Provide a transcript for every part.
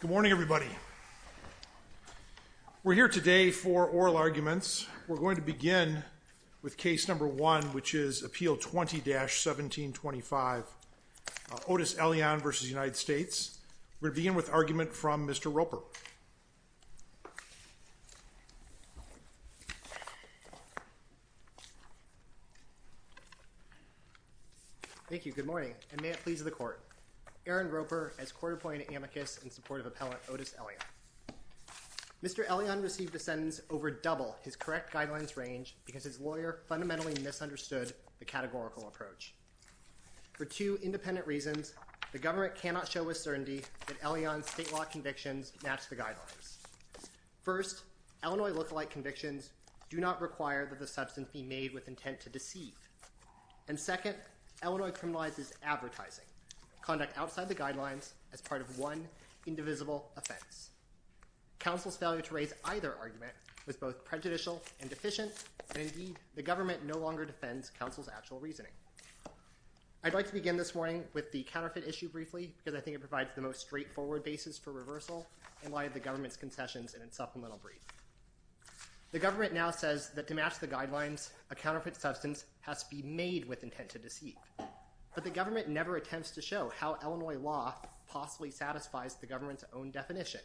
Good morning everybody. We're here today for oral arguments. We're going to begin with case number one which is Appeal 20-1725 Otis Elion v. United States. We'll begin with argument from Mr. Roper. Thank you. Good morning and may it please the court. Aaron Roper as court appointed amicus in support of appellant Otis Elion. Mr. Elion received a sentence over double his correct guidelines range because his lawyer fundamentally misunderstood the categorical approach. For two independent reasons, the government cannot show with certainty that Elion's state law convictions match the guidelines. First, Illinois look-alike convictions do not require that the substance be made with intent to deceive. And second, Illinois criminalizes advertising, conduct outside the guidelines as part of one indivisible offense. Counsel's failure to raise either argument was both prejudicial and deficient and indeed the government no longer defends counsel's actual reasoning. I'd like to begin this morning with the counterfeit issue briefly because I think it provides the most straightforward basis for reversal in light of the government's concessions in its supplemental brief. The government now says that to match the guidelines a counterfeit substance has to be made with intent to deceive. But the government never attempts to show how Illinois law possibly satisfies the government's own definition.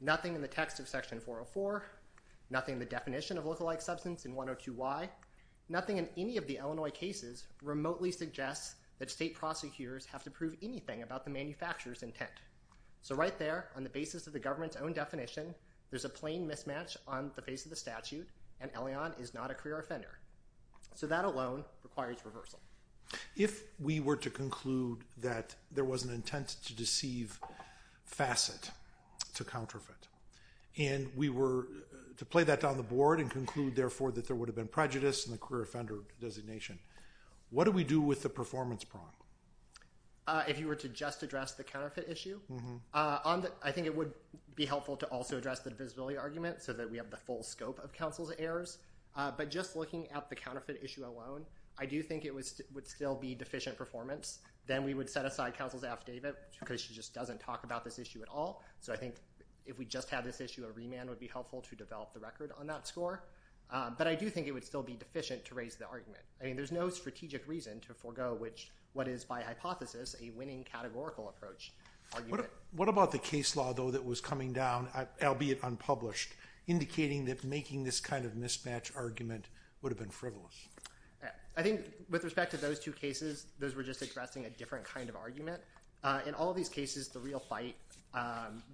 Nothing in the text of section 404, nothing the definition of look-alike substance in 102Y, nothing in any of the Illinois cases remotely suggests that state prosecutors have to prove anything about the manufacturers intent. So right there on the basis of the government's own definition there's a plain mismatch on the face of the statute and Elion is not a career offender. So that alone requires reversal. If we were to conclude that there was an intent to deceive facet to counterfeit and we were to play that down the board and conclude therefore that there would have been prejudice and the career offender designation, what do we do with the performance prong? If you were to just address the counterfeit issue, I think it would be helpful to also address the divisibility argument so that we have the full scope of counsel's errors. But just looking at the counterfeit issue alone, I do think it would still be deficient performance. Then we would set aside counsel's affidavit because she just doesn't talk about this issue at all. So I think if we just have this issue a remand would be helpful to develop the record on that score. But I do think it would still be deficient to raise the argument. I mean there's no strategic reason to forego which what is by hypothesis a winning categorical approach. What about the case law though that was coming down, albeit unpublished, indicating that making this kind of mismatch argument would have been frivolous? I think with respect to those two cases those were just addressing a different kind of argument. In all these cases the real fight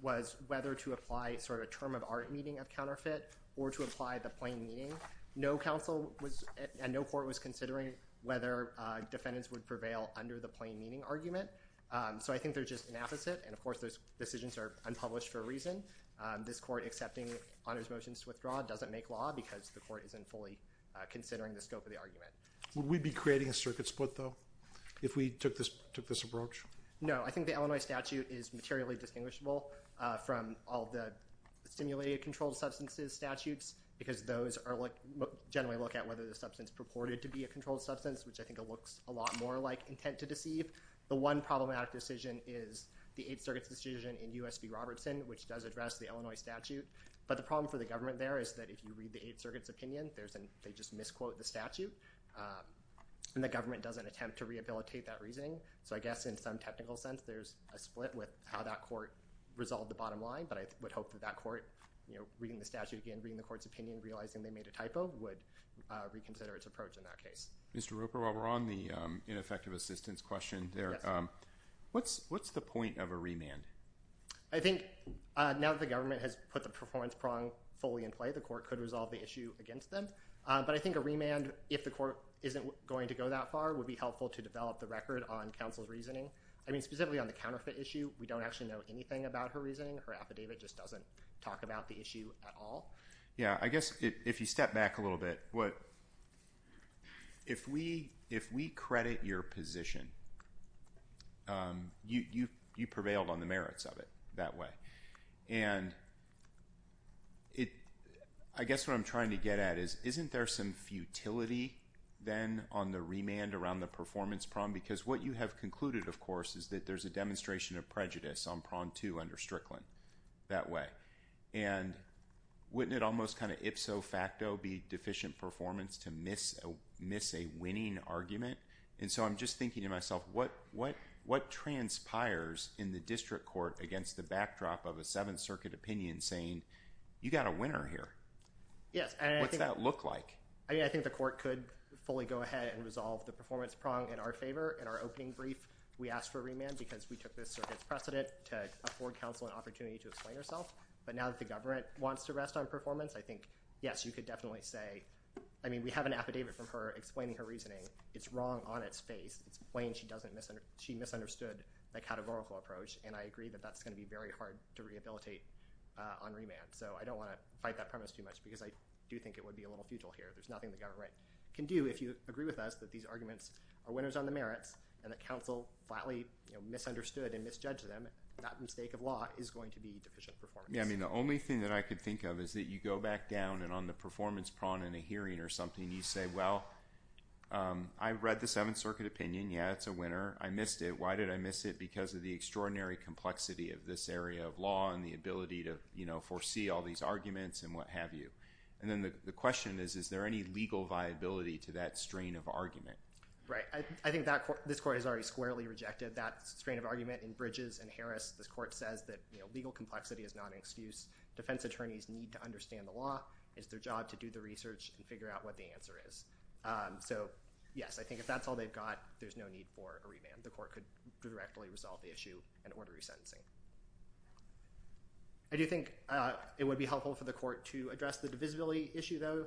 was whether to apply sort of a term of art meeting of counterfeit or to apply the plain meaning. No counsel was and no court was considering whether defendants would prevail under the plain meaning argument. So I think they're just an affidavit and of course those decisions are unpublished for a reason. This court accepting honors motions to withdraw doesn't make law because the court isn't fully considering the scope of the argument. Would we be creating a circuit split though if we took this took this approach? No I think the Illinois statute is materially distinguishable from all the stimulated controlled substances statutes because those are like generally look at whether the substance purported to be a controlled substance which I think it problematic decision is the Eighth Circuit's decision in USB Robertson which does address the Illinois statute but the problem for the government there is that if you read the Eighth Circuit's opinion there's an they just misquote the statute and the government doesn't attempt to rehabilitate that reasoning so I guess in some technical sense there's a split with how that court resolved the bottom line but I would hope that that court you know reading the statute again reading the court's opinion realizing they made a typo would reconsider its approach in that case. Mr. Roper while we're on the ineffective assistance question there what's what's the point of a remand? I think now the government has put the performance prong fully in play the court could resolve the issue against them but I think a remand if the court isn't going to go that far would be helpful to develop the record on counsel's reasoning I mean specifically on the counterfeit issue we don't actually know anything about her reasoning her affidavit just doesn't talk about the issue at all. Yeah I guess if you step back a little bit what if we if we credit your position you you you prevailed on the merits of it that way and it I guess what I'm trying to get at is isn't there some futility then on the remand around the performance prong because what you have concluded of course is that there's a demonstration of prejudice on prong two under Strickland that way and wouldn't it almost kind of ipso facto be deficient performance to miss a miss a winning argument and so I'm just thinking to myself what what what transpires in the district court against the backdrop of a Seventh Circuit opinion saying you got a winner here. Yes. What's that look like? I mean I think the court could fully go ahead and resolve the performance prong in our favor in our opening brief we asked for a remand because we took this circuit's precedent to afford counsel an opportunity to explain herself but now that the government wants to rest on performance I think yes you could definitely say I mean we have an affidavit from her explaining her reasoning it's wrong on its face it's plain she doesn't miss and she misunderstood that categorical approach and I agree that that's gonna be very hard to rehabilitate on remand so I don't want to fight that premise too much because I do think it would be a little futile here there's nothing the government can do if you agree with us that these arguments are winners on the merits and that counsel flatly misunderstood and misjudged them that mistake of law is going to be deficient I mean the only thing that I could think of is that you go back down and on the performance prong in a hearing or something you say well I've read the Seventh Circuit opinion yeah it's a winner I missed it why did I miss it because of the extraordinary complexity of this area of law and the ability to you know foresee all these arguments and what have you and then the question is is there any legal viability to that strain of argument right I think that court this court has already squarely rejected that strain of argument in complexity is not an excuse defense attorneys need to understand the law is their job to do the research and figure out what the answer is so yes I think if that's all they've got there's no need for a remand the court could directly resolve the issue and order resentencing I do think it would be helpful for the court to address the divisibility issue though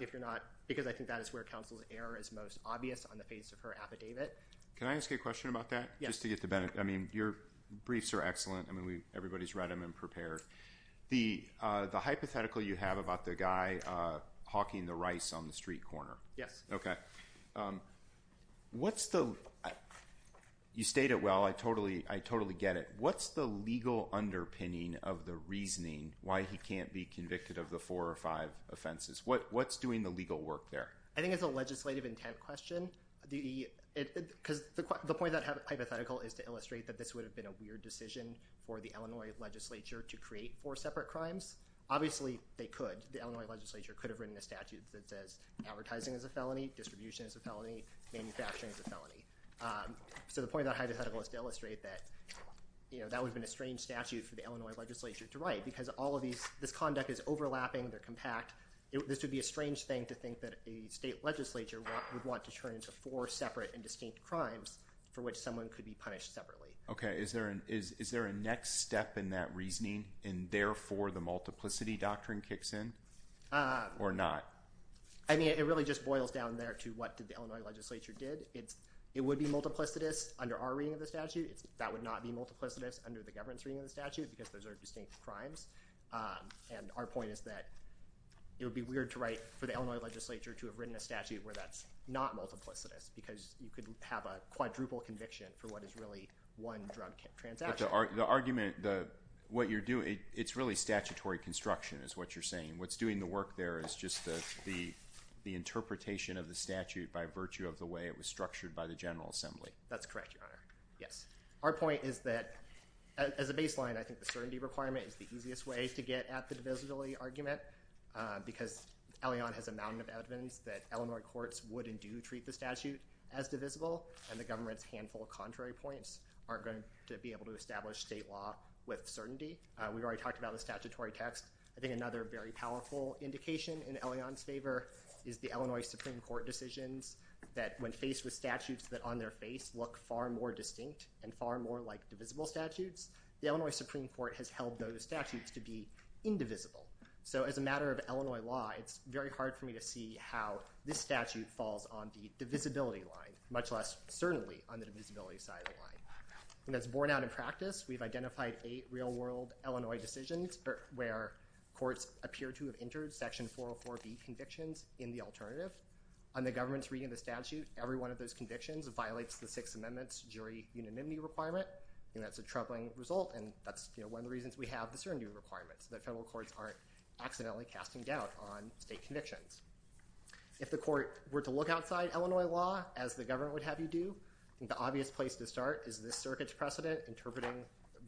if you're not because I think that is where counsel's error is most obvious on the face of her affidavit can I ask a question about that yes to get the benefit I mean your read him and prepared the the hypothetical you have about the guy Hawking the rice on the street corner yes okay what's the you state it well I totally I totally get it what's the legal underpinning of the reasoning why he can't be convicted of the four or five offenses what what's doing the legal work there I think it's a legislative intent question the because the point that hypothetical is to illustrate that this would have been a legislature to create four separate crimes obviously they could the Illinois legislature could have written a statute that says advertising is a felony distribution is a felony manufacturing is a felony so the point that I just had a list illustrate that you know that would have been a strange statute for the Illinois legislature to write because all of these this conduct is overlapping they're compact this would be a strange thing to think that a state legislature would want to turn into four separate and distinct crimes for which is there a next step in that reasoning and therefore the multiplicity doctrine kicks in or not I mean it really just boils down there to what did the Illinois legislature did it's it would be multiplicitous under our reading of the statute that would not be multiplicitous under the governance reading of the statute because those are distinct crimes and our point is that it would be weird to write for the Illinois legislature to have written a statute where that's not multiplicitous because you could have a quadruple conviction for what is really one drug the argument the what you're doing it's really statutory construction is what you're saying what's doing the work there is just the the the interpretation of the statute by virtue of the way it was structured by the General Assembly that's correct yes our point is that as a baseline I think the certainty requirement is the easiest way to get at the divisibility argument because Elion has a mountain of evidence that Illinois courts wouldn't do treat the statute as divisible and the government's handful of contrary points aren't going to be able to establish state law with certainty we've already talked about the statutory text I think another very powerful indication in Elion's favor is the Illinois Supreme Court decisions that when faced with statutes that on their face look far more distinct and far more like divisible statutes the Illinois Supreme Court has held those statutes to be indivisible so as a matter of Illinois law it's very hard for me to see how this statute falls on the divisibility line much less certainly on the divisibility side of the line and that's borne out in practice we've identified eight real-world Illinois decisions where courts appear to have entered section 404 B convictions in the alternative on the government's reading the statute every one of those convictions violates the Sixth Amendment's jury unanimity requirement and that's a troubling result and that's you know one of the reasons we have the certainty requirements that federal courts aren't accidentally casting doubt on state convictions if the court were to look outside Illinois law as the government would have you do the obvious place to start is this circuit's precedent interpreting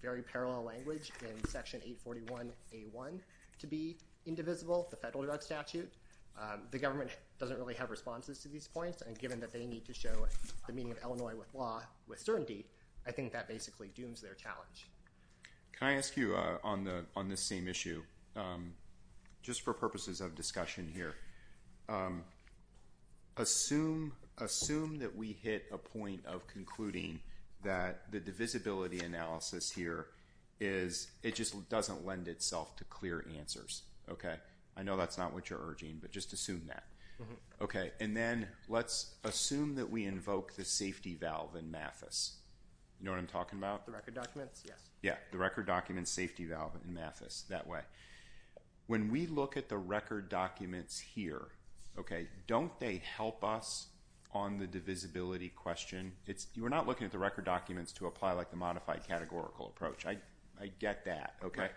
very parallel language in section 841 a1 to be indivisible the federal drug statute the government doesn't really have responses to these points and given that they need to show the meaning of Illinois with law with certainty I think that basically dooms their challenge can I ask you on the on this same issue just for purposes of discussion here assume assume that we hit a point of concluding that the divisibility analysis here is it just doesn't lend itself to clear answers okay I know that's not what you're urging but just assume that okay and then let's assume that we invoke the safety valve in Mathis you know what I'm talking about the record documents yes yeah the record documents safety valve in Mathis that way when we look at the visibility question it's you were not looking at the record documents to apply like the modified categorical approach I I get that okay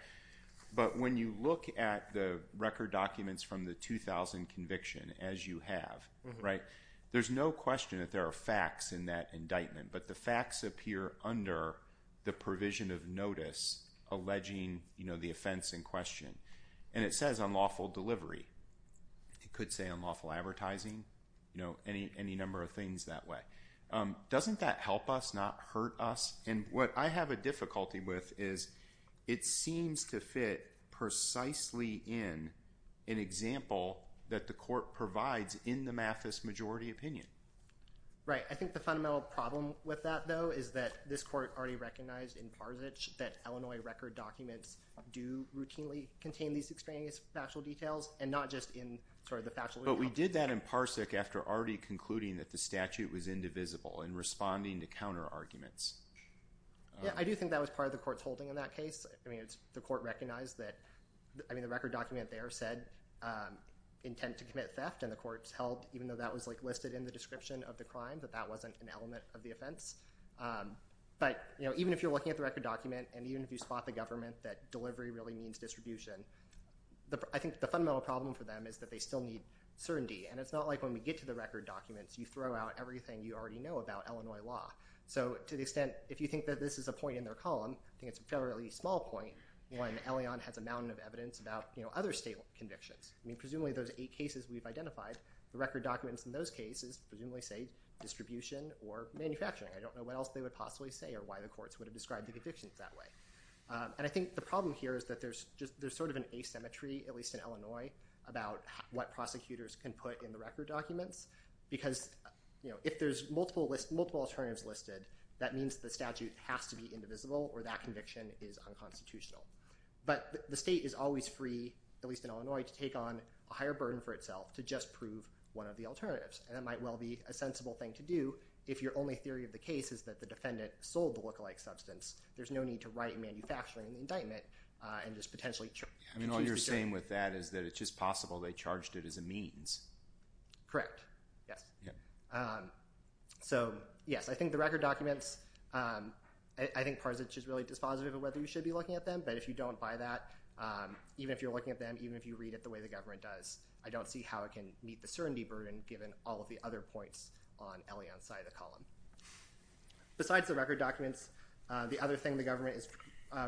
but when you look at the record documents from the 2000 conviction as you have right there's no question that there are facts in that indictment but the facts appear under the provision of notice alleging you know the offense in question and it says unlawful delivery it could say unlawful advertising you know any any number of things that way doesn't that help us not hurt us and what I have a difficulty with is it seems to fit precisely in an example that the court provides in the Mathis majority opinion right I think the fundamental problem with that though is that this court already recognized in parsage that Illinois record documents do routinely contain these extraneous factual details and not just in sort of but we did that in parsic after already concluding that the statute was indivisible in responding to counter arguments yeah I do think that was part of the courts holding in that case I mean it's the court recognized that I mean the record document there said intent to commit theft and the courts held even though that was like listed in the description of the crime that that wasn't an element of the offense but you know even if you're looking at the record document and even if you spot the government that delivery really means distribution the I think the fundamental problem for them is that they still need certainty and it's not like when we get to the record documents you throw out everything you already know about Illinois law so to the extent if you think that this is a point in their column I think it's a fairly small point when Elion has a mountain of evidence about you know other state convictions I mean presumably those eight cases we've identified the record documents in those cases presumably say distribution or manufacturing I don't know what else they would possibly say or why the courts would have described the convictions that way and I think the problem here is that there's just there's of an asymmetry at least in Illinois about what prosecutors can put in the record documents because you know if there's multiple list multiple alternatives listed that means the statute has to be indivisible or that conviction is unconstitutional but the state is always free at least in Illinois to take on a higher burden for itself to just prove one of the alternatives and it might well be a sensible thing to do if your only theory of the case is that the defendant sold the look-alike substance there's no need to write manufacturing indictment and just potentially I mean all you're saying with that is that it's just possible they charged it as a means correct yes so yes I think the record documents I think parts it's just really dispositive of whether you should be looking at them but if you don't buy that even if you're looking at them even if you read it the way the government does I don't see how it can meet the certainty burden given all of the other points on Elion side of the column besides the record documents the other thing the government is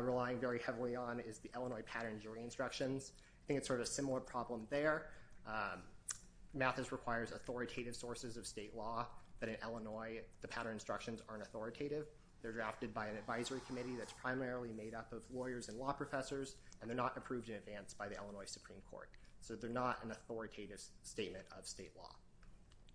relying very heavily on is the Illinois pattern jury instructions I think it's sort of similar problem there math is requires authoritative sources of state law that in Illinois the pattern instructions aren't authoritative they're drafted by an advisory committee that's primarily made up of lawyers and law professors and they're not approved in advance by the Illinois Supreme Court so they're not an authoritative statement of state law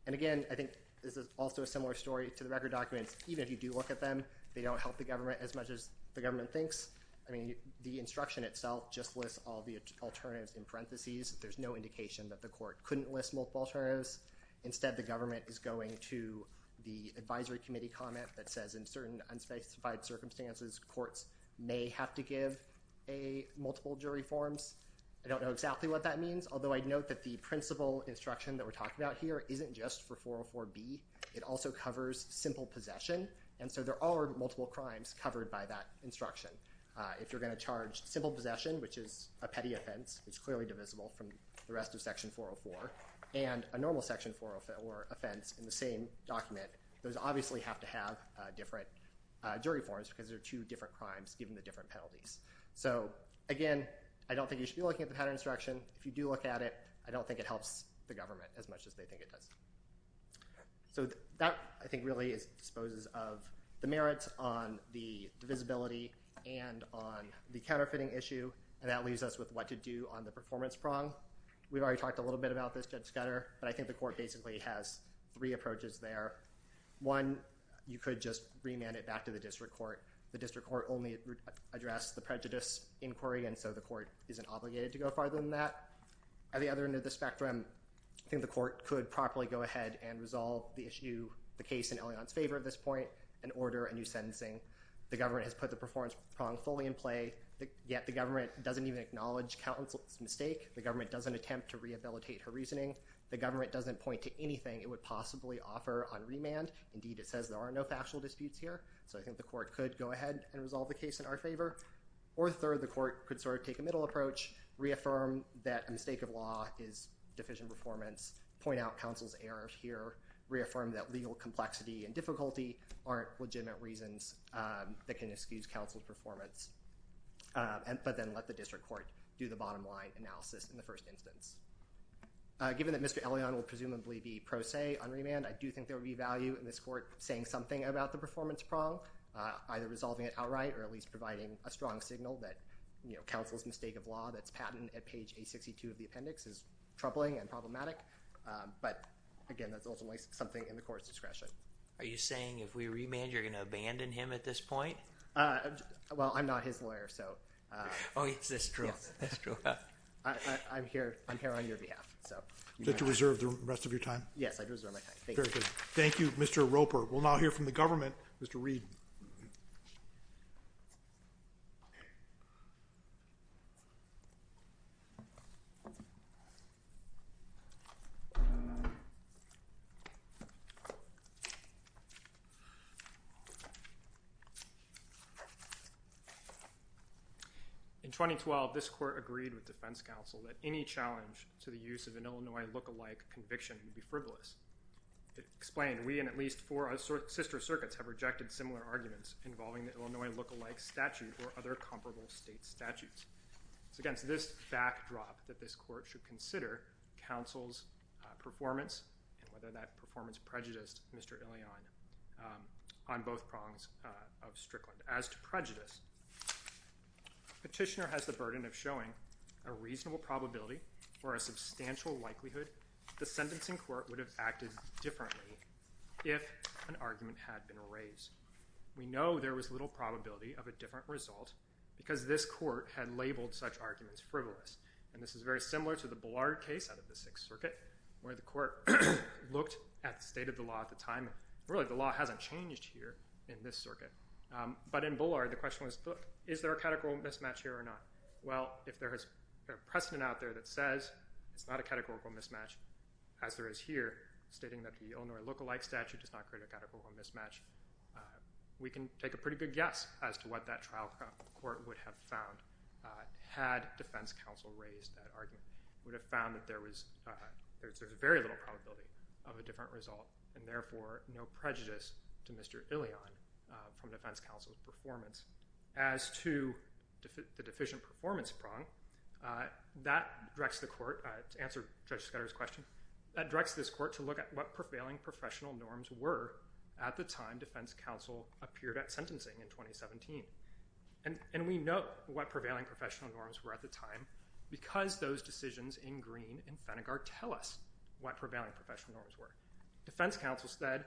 and again I think this is also a similar story to the record documents even if you do look at them they don't help the government as much as the government thinks I mean the instruction itself just lists all the alternatives in parentheses there's no indication that the court couldn't list multiple terms instead the government is going to the advisory committee comment that says in certain unspecified circumstances courts may have to give a multiple jury forms I don't know exactly what that means although I'd note that the principal instruction that we're talking about here isn't just for 404 B it also covers simple possession and so there are multiple crimes covered by that instruction if you're going to charge simple possession which is a petty offense it's clearly divisible from the rest of section 404 and a normal section for offense in the same document those obviously have to have different jury forms because there are two different crimes given the different penalties so again I don't think you should be looking at the pattern instruction if you do look at it I don't think it helps the government as much as they think it so that I think really is disposes of the merits on the divisibility and on the counterfeiting issue and that leaves us with what to do on the performance prong we've already talked a little bit about this judge gutter but I think the court basically has three approaches there one you could just remand it back to the district court the district court only address the prejudice inquiry and so the court isn't obligated to go farther than that at the other end of the spectrum I think the court could properly go ahead and resolve the issue the case in Elion's favor at this point and order a new sentencing the government has put the performance prong fully in play yet the government doesn't even acknowledge counsel's mistake the government doesn't attempt to rehabilitate her reasoning the government doesn't point to anything it would possibly offer on remand indeed it says there are no factual disputes here so I think the court could go ahead and resolve the case in our favor or third the court could sort of take a middle approach reaffirm that a mistake of law is deficient performance point out counsel's errors here reaffirm that legal complexity and difficulty aren't legitimate reasons that can excuse counsel's performance and but then let the district court do the bottom line analysis in the first instance given that mr. Elion will presumably be pro se on remand I do think there would be value in this court saying something about the performance prong either resolving it outright or at least providing a strong signal that you know counsel's mistake of law that's patent at page a 62 of the appendix is troubling and problematic but again that's ultimately something in the court's discretion are you saying if we remand you're gonna abandon him at this point well I'm not his lawyer so oh it's this truth that's true I'm here I'm here on your behalf so you deserve the rest of your time yes thank you mr. Roper will now hear from the government mr. Reed in 2012 this court agreed with defense counsel that any challenge to the use of an Illinois look-alike conviction would be frivolous it explained we and at least for us or sister circuits have rejected similar arguments involving the Illinois look-alike statute or other comparable state statutes it's against this backdrop that this court should consider counsel's performance and whether that performance prejudiced mr. Elion on both prongs of Strickland as to prejudice petitioner has the burden of showing a reasonable probability or a substantial likelihood the sentencing court would have acted differently if an argument had been raised we know there was little probability of a different result because this court had labeled such arguments frivolous and this is very similar to the ballard case out of the Sixth Circuit where the court looked at the state of the law at the time really the law hasn't changed here in this circuit but in Bullard the question was is there a categorical mismatch here or not well if there has precedent out there that says it's not a categorical mismatch as there is here stating that the Illinois look-alike statute does not create a categorical mismatch we can take a pretty good guess as to what that trial court would have found had defense counsel raised that argument would have found that there was there's a very little probability of a different result and therefore no prejudice to mr. Elion from defense counsel's performance as to the deficient performance prong that directs the court to answer judge scatters question that directs this court to look at what prevailing professional norms were at the time defense counsel appeared at 2017 and and we know what prevailing professional norms were at the time because those decisions in green and Fennegar tell us what prevailing professional norms were defense counsel said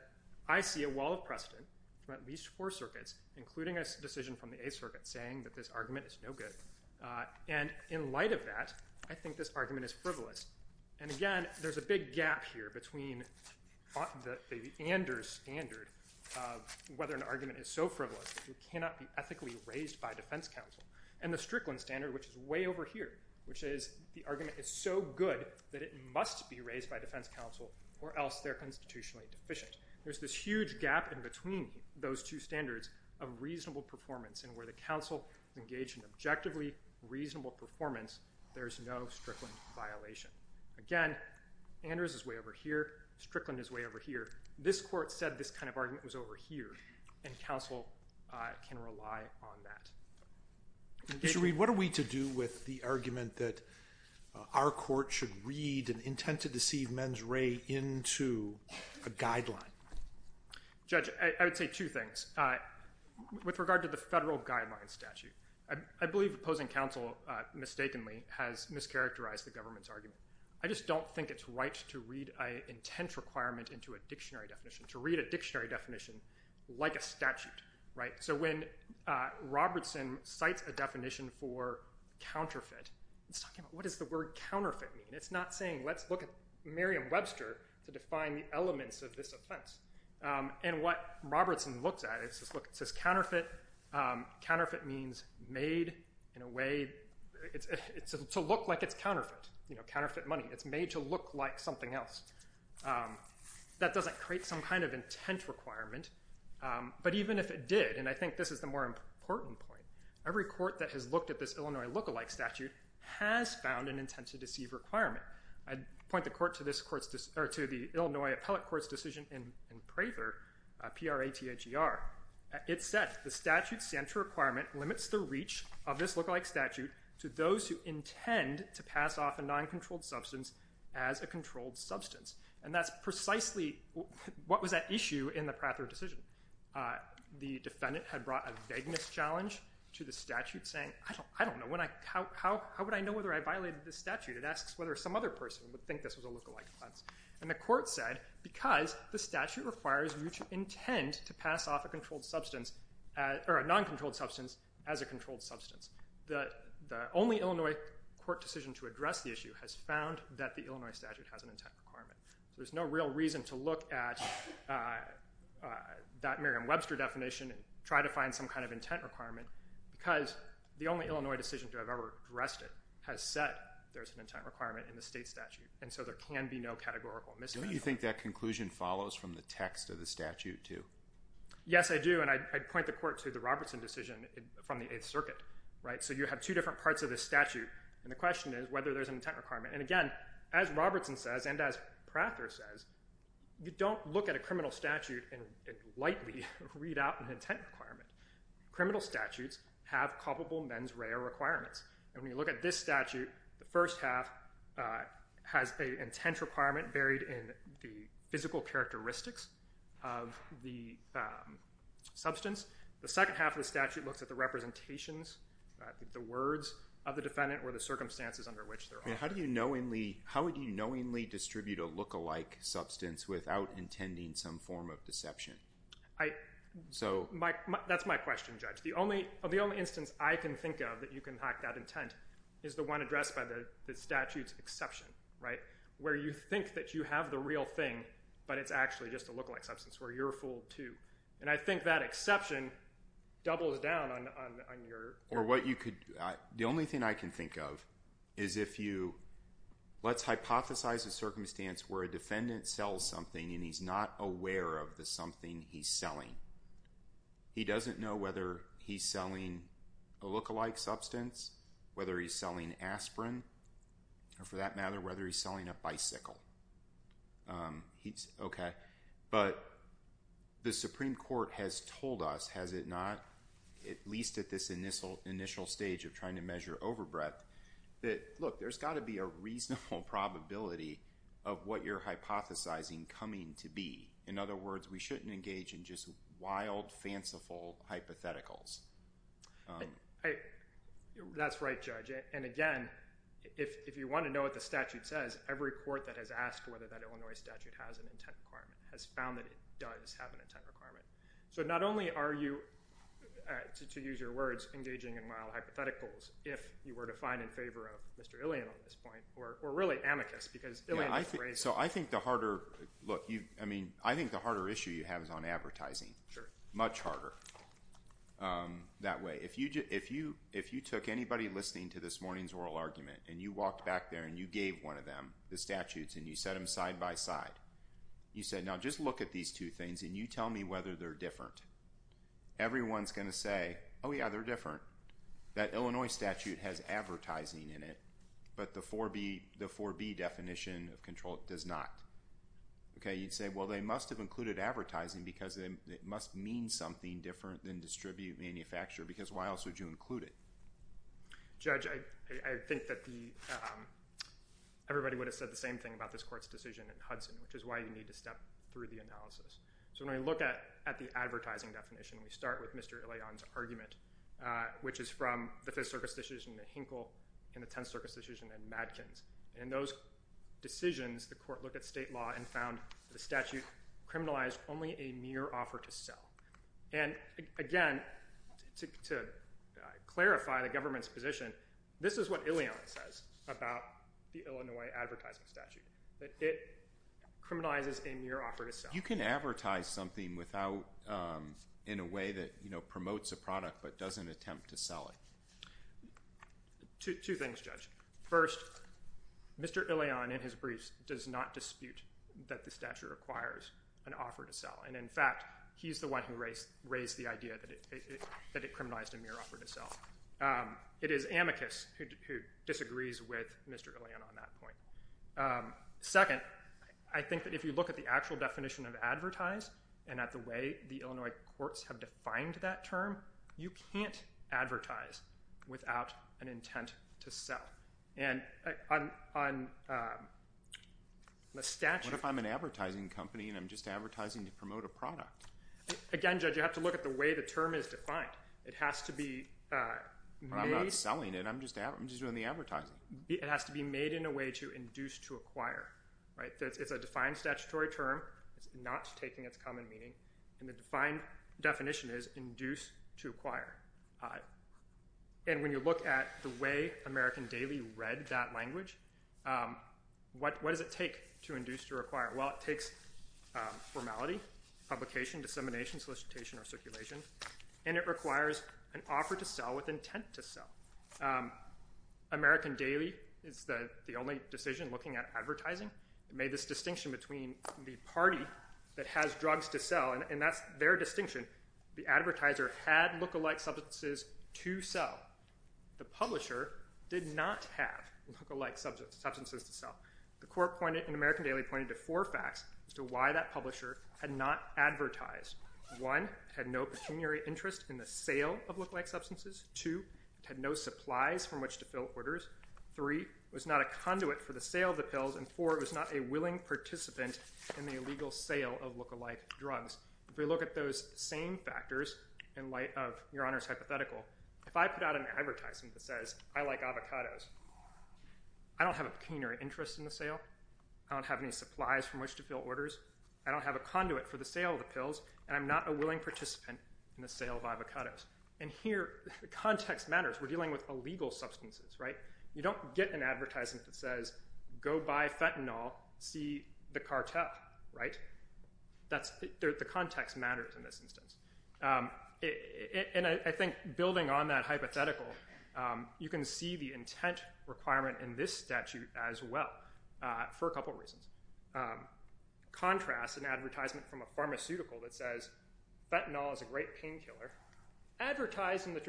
I see a wall of precedent from at least four circuits including a decision from the a circuit saying that this argument is no good and in light of that I think this argument is frivolous and again there's a big gap here between the Anders standard whether an argument is so frivolous you cannot be ethically raised by defense counsel and the Strickland standard which is way over here which is the argument is so good that it must be raised by defense counsel or else they're constitutionally deficient there's this huge gap in between those two standards of reasonable performance and where the council engaged in objectively reasonable performance there's no Strickland violation again Anders is way over here Strickland is way over here this court said this kind of argument was over here and counsel can rely on that you should read what are we to do with the argument that our court should read and intend to deceive men's ray into a guideline judge I would say two things with regard to the federal guidelines statute I believe opposing counsel mistakenly has mischaracterized the government's argument I just don't think it's right to read a intent requirement into a dictionary definition to read a dictionary definition like a statute right so when Robertson cites a definition for counterfeit what is the word counterfeit it's not saying let's look at Merriam-Webster to define the elements of this offense and what Robertson looks at it's just look it says counterfeit counterfeit means made in a way it's it's a look like it's counterfeit you know counterfeit money it's made to look like something else that doesn't create some kind of intent requirement but even if it did and I think this is the more important point every court that has looked at this Illinois look-alike statute has found an intent to deceive requirement I'd point the court to this court's or to the Illinois Appellate Court's decision in Prather PRA TAGR it said the statute center requirement limits the reach of substance as a controlled substance and that's precisely what was that issue in the Prather decision the defendant had brought a vagueness challenge to the statute saying I don't I don't know when I how would I know whether I violated the statute it asks whether some other person would think this was a look-alike offense and the court said because the statute requires you to intend to pass off a controlled substance or a non controlled substance as a controlled substance that the only Illinois court decision to address the issue has found that the Illinois statute has an intent requirement so there's no real reason to look at that Merriam-Webster definition and try to find some kind of intent requirement because the only Illinois decision to have ever addressed it has said there's an intent requirement in the state statute and so there can be no categorical miss you think that conclusion follows from the text of the statute too yes I do and I'd point the court to the Robertson decision from the circuit right so you have two different parts of this statute and the question is whether there's an intent requirement and again as Robertson says and as Prather says you don't look at a criminal statute and lightly read out an intent requirement criminal statutes have culpable men's rare requirements and when you look at this statute the first half has a intent requirement buried in the physical characteristics of the substance the second half of the representations the words of the defendant or the circumstances under which they're how do you knowingly how would you knowingly distribute a look-alike substance without intending some form of deception I so Mike that's my question judge the only of the only instance I can think of that you can hack that intent is the one addressed by the statutes exception right where you think that you have the real thing but it's actually just a look-alike or what you could the only thing I can think of is if you let's hypothesize a circumstance where a defendant sells something and he's not aware of the something he's selling he doesn't know whether he's selling a look-alike substance whether he's selling aspirin or for that matter whether he's selling a bicycle he's okay but the Supreme Court has told us has it not at least at this initial initial stage of trying to measure overbreadth that look there's got to be a reasonable probability of what you're hypothesizing coming to be in other words we shouldn't engage in just wild fanciful hypotheticals hey that's right judge and again if you want to know what the statute says every court that has asked whether that Illinois statute has an intent requirement has found that it does have an intent requirement so not only are you to use your words engaging in mild hypotheticals if you were to find in favor of mr. alien on this point or really amicus because so I think the harder look you I mean I think the harder issue you have is on advertising sure much harder that way if you just if you if you took anybody listening to this morning's oral argument and you walked back there and you gave one of the statutes and you set them side-by-side you said now just look at these two things and you tell me whether they're different everyone's gonna say oh yeah they're different that Illinois statute has advertising in it but the 4b the 4b definition of control does not okay you'd say well they must have included advertising because then it must mean something different than distribute manufacture because why else would you include it judge I think that everybody would have said the same thing about this court's decision in Hudson which is why you need to step through the analysis so when I look at at the advertising definition we start with mr. Leon's argument which is from the fifth Circus decision to Hinkle in the 10th Circus decision and Madkins and those decisions the court looked at state law and found the statute criminalized only a mere offer to sell and again to clarify the government's position this is what Illion says about the Illinois advertising statute that it criminalizes a mere offer to sell you can advertise something without in a way that you know promotes a product but doesn't attempt to sell it two things judge first mr. Leon in his briefs does not dispute that the stature requires an offer to sell and in fact he's the one who raised raised the idea that it that it disagrees with mr. Leon on that point second I think that if you look at the actual definition of advertise and at the way the Illinois courts have defined that term you can't advertise without an intent to sell and on the statute if I'm an advertising company and I'm just advertising to promote a product again judge you have to look at the way the term is defined it has to be I'm not doing the advertising it has to be made in a way to induce to acquire right that's a defined statutory term it's not taking its common meaning and the defined definition is induced to acquire and when you look at the way American Daily read that language what what does it take to induce to require well it takes formality publication dissemination solicitation or American Daily is the the only decision looking at advertising it made this distinction between the party that has drugs to sell and that's their distinction the advertiser had look-alike substances to sell the publisher did not have look-alike substance substances to sell the court pointed in American Daily pointed to four facts as to why that publisher had not advertised one had no pecuniary interest in the sale of look-alike to fill orders three was not a conduit for the sale of the pills and four it was not a willing participant in the illegal sale of look-alike drugs if we look at those same factors in light of your honor's hypothetical if I put out an advertising that says I like avocados I don't have a pecuniary interest in the sale I don't have any supplies from which to fill orders I don't have a conduit for the sale of the pills and I'm not a willing participant in the sale of avocados and here the context matters we're dealing with a legal substances right you don't get an advertisement that says go buy fentanyl see the cartel right that's the context matters in this instance and I think building on that hypothetical you can see the intent requirement in this statute as well for a couple reasons contrasts an advertisement from a pharmaceutical that says fentanyl is a great painkiller advertised in the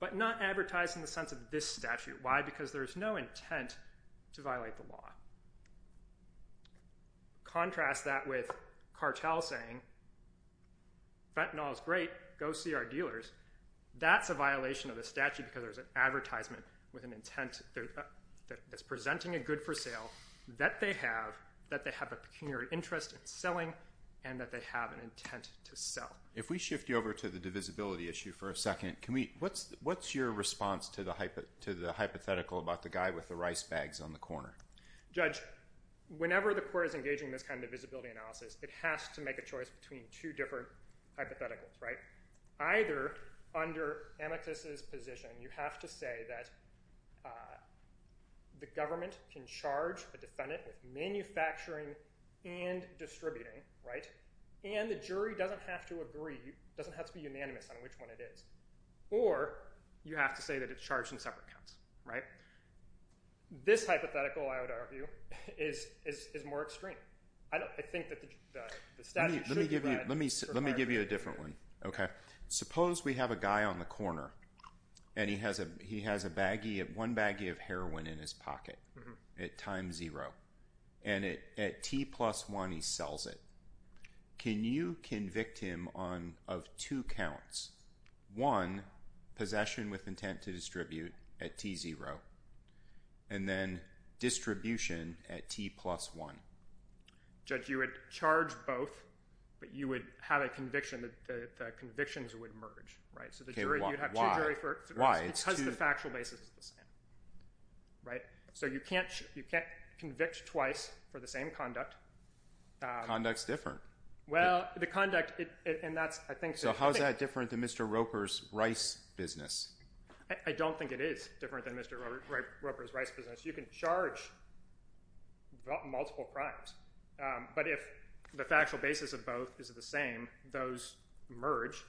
but not advertised in the sense of this statute why because there's no intent to violate the law contrast that with cartel saying fentanyl is great go see our dealers that's a violation of the statute because there's an advertisement with an intent that's presenting a good-for-sale that they have that they have a pecuniary interest in selling and that they have an intent to sell if we what's your response to the hypothetical about the guy with the rice bags on the corner judge whenever the court is engaging this kind of visibility analysis it has to make a choice between two different hypotheticals right either under amicus's position you have to say that the government can charge the defendant with manufacturing and distributing right and the jury doesn't have to agree doesn't have to be unanimous on which one it is or you have to say that it's charged in separate counts right this hypothetical I would argue is is more extreme I don't think that let me let me give you a different one okay suppose we have a guy on the corner and he has a he has a baggie of one baggie of heroin in his pocket at time zero and it at t plus one he sells it can you convict him on of two counts one possession with intent to distribute at t zero and then distribution at t plus one judge you would charge both but you would have a conviction that the convictions would merge right so the jury why it's because the factual basis is the same right so you can't you can't convict twice for the same conduct conduct different well the conduct it and that's I think so how is that different than mr. Roper's rice business I don't think it is different than mr. Roper's rice business you can charge multiple crimes but if the factual basis of both is the same those merge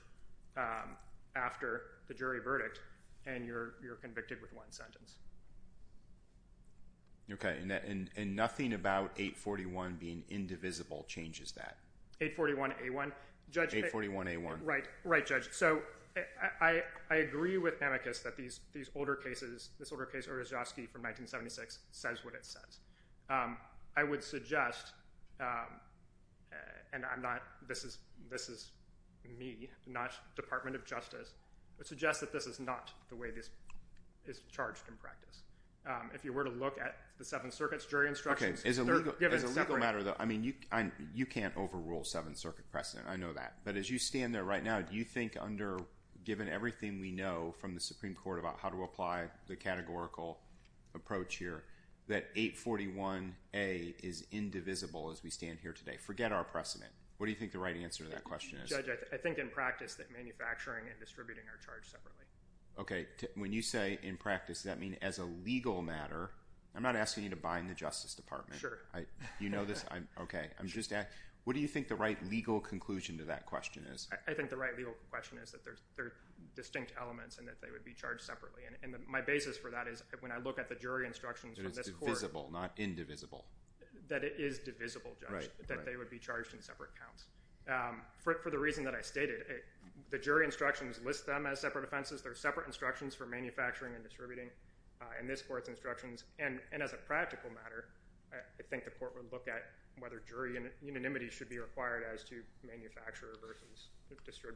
after the jury verdict and you're convicted with one sentence okay in that and nothing about 841 being indivisible changes that 841 a1 judge 841 a1 right right judge so I agree with amicus that these these older cases this order case or a jockey from 1976 says what it says I would suggest and I'm not this is this is me not Department of Justice it suggests that this is not the way this is charged in practice if you were to look at the Seventh Circuit's jury instructions as a matter though I mean you I'm you can't overrule Seventh Circuit precedent I know that but as you stand there right now do you think under given everything we know from the Supreme Court about how to apply the categorical approach here that 841 a is indivisible as we stand here today forget our precedent what do you think the right answer to that question is I think in practice that manufacturing and distributing are charged separately okay when you say in practice that mean as a legal matter I'm not asking you to bind the Justice Department sure I you know this I'm okay I'm just at what do you think the right legal conclusion to that question is I think the right legal question is that there's they're distinct elements and that they would be charged separately and my basis for that is when I look at the jury instructions visible not indivisible that it is divisible right that they would be charged in separate counts for the reason that I stated the jury instructions list them as separate offenses they're separate instructions for manufacturing and distributing and this court's instructions and and as a practical matter I think the court would look at whether jury and unanimity should be required as to manufacturer versus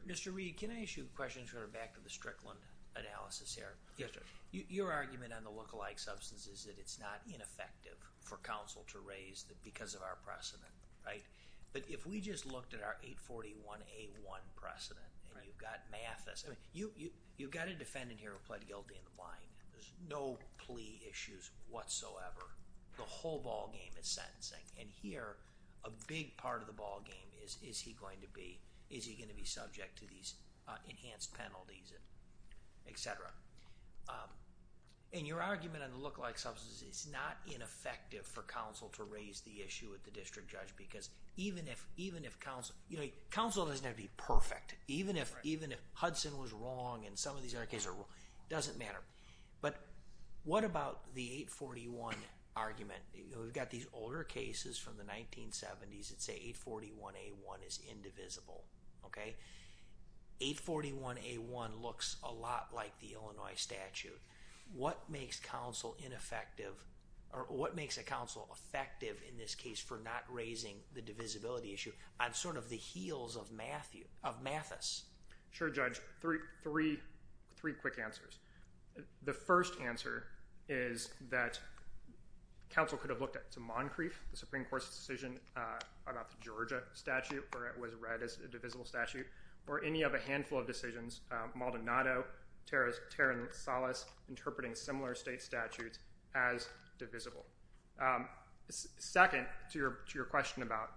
mr. we can issue questions for her back to the Strickland analysis here yes sir your argument on the look-alike substance is that it's not ineffective for counsel to raise that because of our precedent right but if we just looked at our 841 a1 precedent and you've got Mathis I mean you you've got a defendant here who pled guilty in the blind there's no plea issues whatsoever the whole ballgame is sentencing and here a big part of the ballgame is is he going to be is he going to be subject to these enhanced penalties etc and your argument on the look-alike substance it's not ineffective for counsel to raise the issue at the district judge because even if even if counsel you know counsel doesn't have to be perfect even if even if Hudson was wrong and some of these other cases doesn't matter but what about the 841 argument we've got these older cases from the 1970s it's a 841 a1 is indivisible okay 841 a1 looks a lot like the Illinois statute what makes counsel ineffective or what makes a counsel effective in this case for not raising the divisibility issue I'm sort of the heels of Matthew of Mathis sure judge three three three quick answers the first answer is that counsel could have looked at to Moncrief the Supreme Court's decision about the Georgia statute or it was read as a divisible statute or any of a handful of decisions Maldonado Tara's Taryn solace interpreting similar state statutes as divisible second to your question about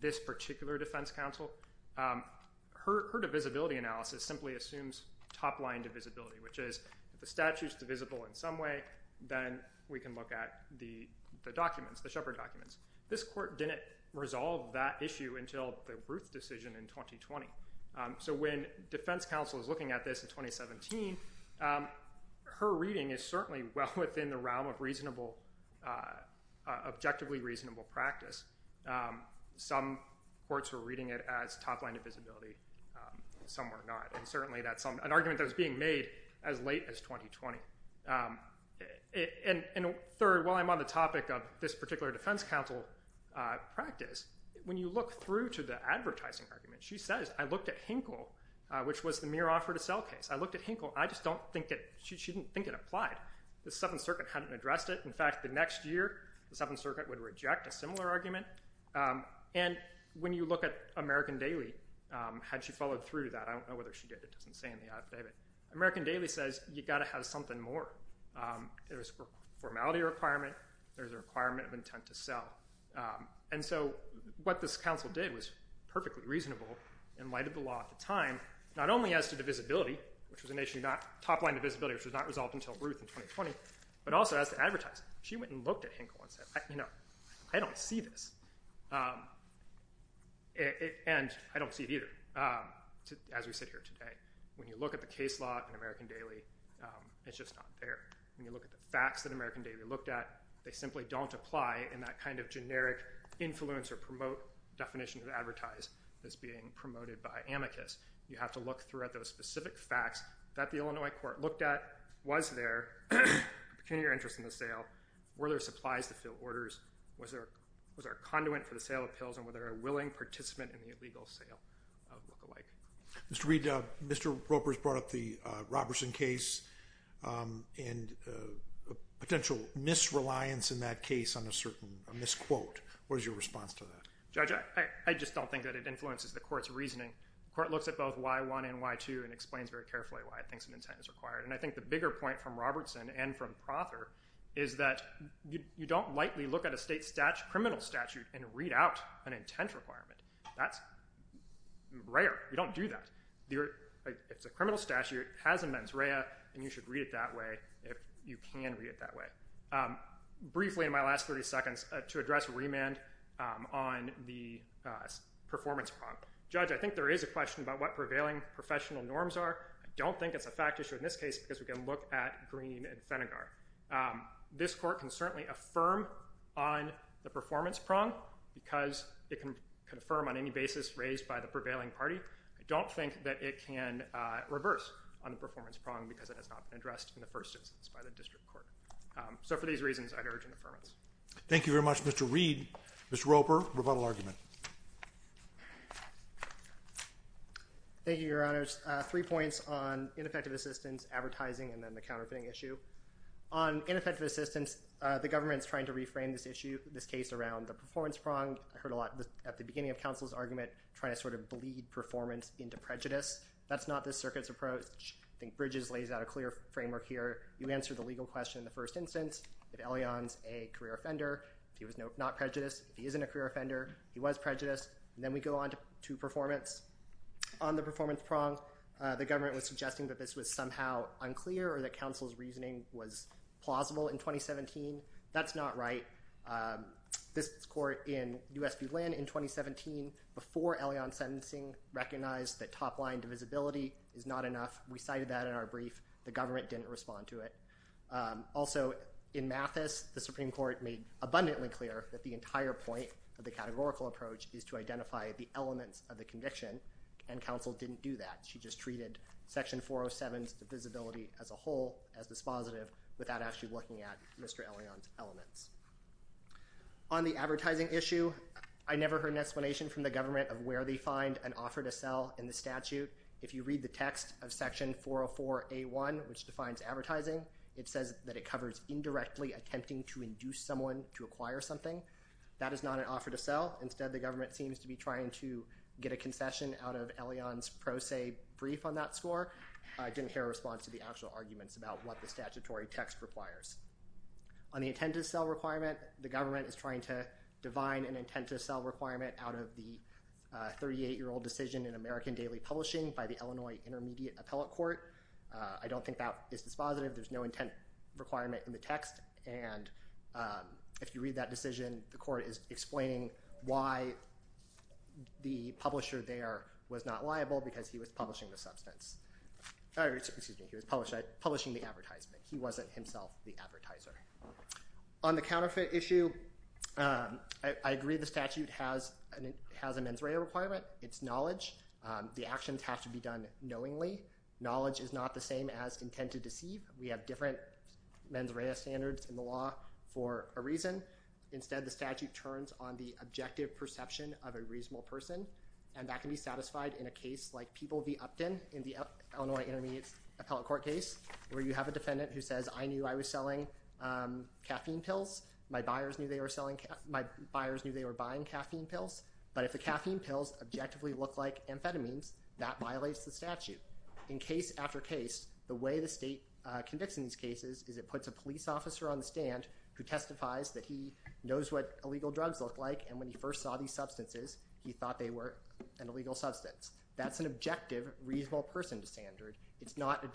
this particular defense counsel her divisibility analysis simply assumes top-line divisibility which is the statutes divisible in some way then we can look at the the documents the decision in 2020 so when defense counsel is looking at this in 2017 her reading is certainly well within the realm of reasonable objectively reasonable practice some courts were reading it as top line of visibility some were not and certainly that's an argument that was being made as late as 2020 and third while I'm on the topic of this particular defense counsel practice when you look through to the advertising argument she says I looked at Hinkle which was the mere offer to sell case I looked at Hinkle I just don't think it she didn't think it applied the Seventh Circuit hadn't addressed it in fact the next year the Seventh Circuit would reject a similar argument and when you look at American Daily had she followed through that I don't know whether she did it doesn't say in the affidavit American Daily says you got to have something more there's a formality requirement there's a and so what this council did was perfectly reasonable in light of the law at the time not only as to divisibility which was initially not top line of visibility which was not resolved until Ruth in 2020 but also as to advertise she went and looked at Hinkle and said you know I don't see this and I don't see it either as we sit here today when you look at the case law in American Daily it's just not there when you look at the facts that American Daily looked at they simply don't apply in that kind of generic influence or promote definition of advertise that's being promoted by amicus you have to look through at those specific facts that the Illinois court looked at was there can your interest in the sale were there supplies to fill orders was there was our conduit for the sale of pills and whether a willing participant in the illegal sale lookalike mr. Reid mr. Ropers brought up the Robertson case and potential misreliance in that case on a certain misquote where's your response to that judge I just don't think that it influences the court's reasoning court looks at both y1 and y2 and explains very carefully why I think some intent is required and I think the bigger point from Robertson and from Prother is that you don't lightly look at a state stat criminal statute and read out an intent requirement that's rare you don't do that you're it's a criminal statute has and you should read it that way if you can read it that way briefly in my last 30 seconds to address remand on the performance problem judge I think there is a question about what prevailing professional norms are don't think it's a fact issue in this case because we can look at green and Senegal this court can certainly affirm on the performance prong because it can confirm on any basis raised by the prevailing party I don't think that it can reverse on the prong because it has not been addressed in the first instance by the district court so for these reasons I'd urge an affirmance thank you very much mr. Reed mr. Roper rebuttal argument thank you your honors three points on ineffective assistance advertising and then the counterfeiting issue on ineffective assistance the government's trying to reframe this issue this case around the performance prong I heard a lot at the beginning of counsel's argument trying to sort of bleed performance into prejudice that's not this circuits approach I think bridges lays out a clear framework here you answer the legal question in the first instance if Elyon's a career offender if he was no not prejudiced he isn't a career offender he was prejudiced and then we go on to two performance on the performance prong the government was suggesting that this was somehow unclear or that counsel's reasoning was plausible in 2017 that's not right this court in USB land in 2017 before Elyon sentencing recognized that top-line divisibility is not enough we cited that in our brief the government didn't respond to it also in Mathis the Supreme Court made abundantly clear that the entire point of the categorical approach is to identify the elements of the conviction and counsel didn't do that she just treated section 407 the visibility as a whole as dispositive without actually looking at mr. Elyon's elements on the advertising issue I find an offer to sell in the statute if you read the text of section 404 a1 which defines advertising it says that it covers indirectly attempting to induce someone to acquire something that is not an offer to sell instead the government seems to be trying to get a concession out of Elyon's pro se brief on that score I didn't hear a response to the actual arguments about what the statutory text requires on the intended sell requirement the government is divine and intent to sell requirement out of the 38 year old decision in American Daily Publishing by the Illinois Intermediate Appellate Court I don't think that is dispositive there's no intent requirement in the text and if you read that decision the court is explaining why the publisher there was not liable because he was publishing the substance he was published at publishing the advertisement he wasn't himself the advertiser on the counterfeit issue I agree the statute has and it has a mens rea requirement it's knowledge the actions have to be done knowingly knowledge is not the same as intent to deceive we have different mens rea standards in the law for a reason instead the statute turns on the objective perception of a reasonable person and that can be satisfied in a case like people be Upton in the have a defendant who says I knew I was selling caffeine pills my buyers knew they were selling my buyers knew they were buying caffeine pills but if the caffeine pills objectively look like amphetamines that violates the statute in case after case the way the state convicts in these cases is it puts a police officer on the stand who testifies that he knows what illegal drugs look like and when he first saw these substances he thought they were an illegal substance that's an objective reasonable person to standard it's not a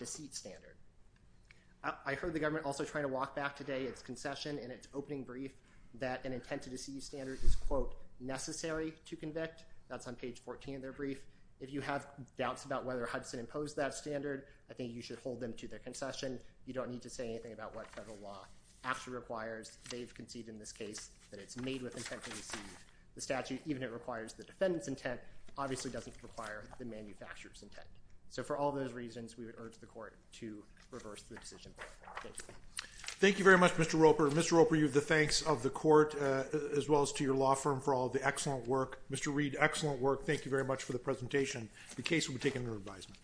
I heard the government also trying to walk back today it's concession and it's opening brief that an intent to deceive standard is quote necessary to convict that's on page 14 of their brief if you have doubts about whether Hudson imposed that standard I think you should hold them to their concession you don't need to say anything about what federal law actually requires they've conceded in this case that it's made with the statute even it requires the defendants intent obviously doesn't require the manufacturers intent so for all those to reverse the decision thank you very much mr. Roper mr. Roper you have the thanks of the court as well as to your law firm for all the excellent work mr. Reid excellent work thank you very much for the presentation the case will be taken under advisement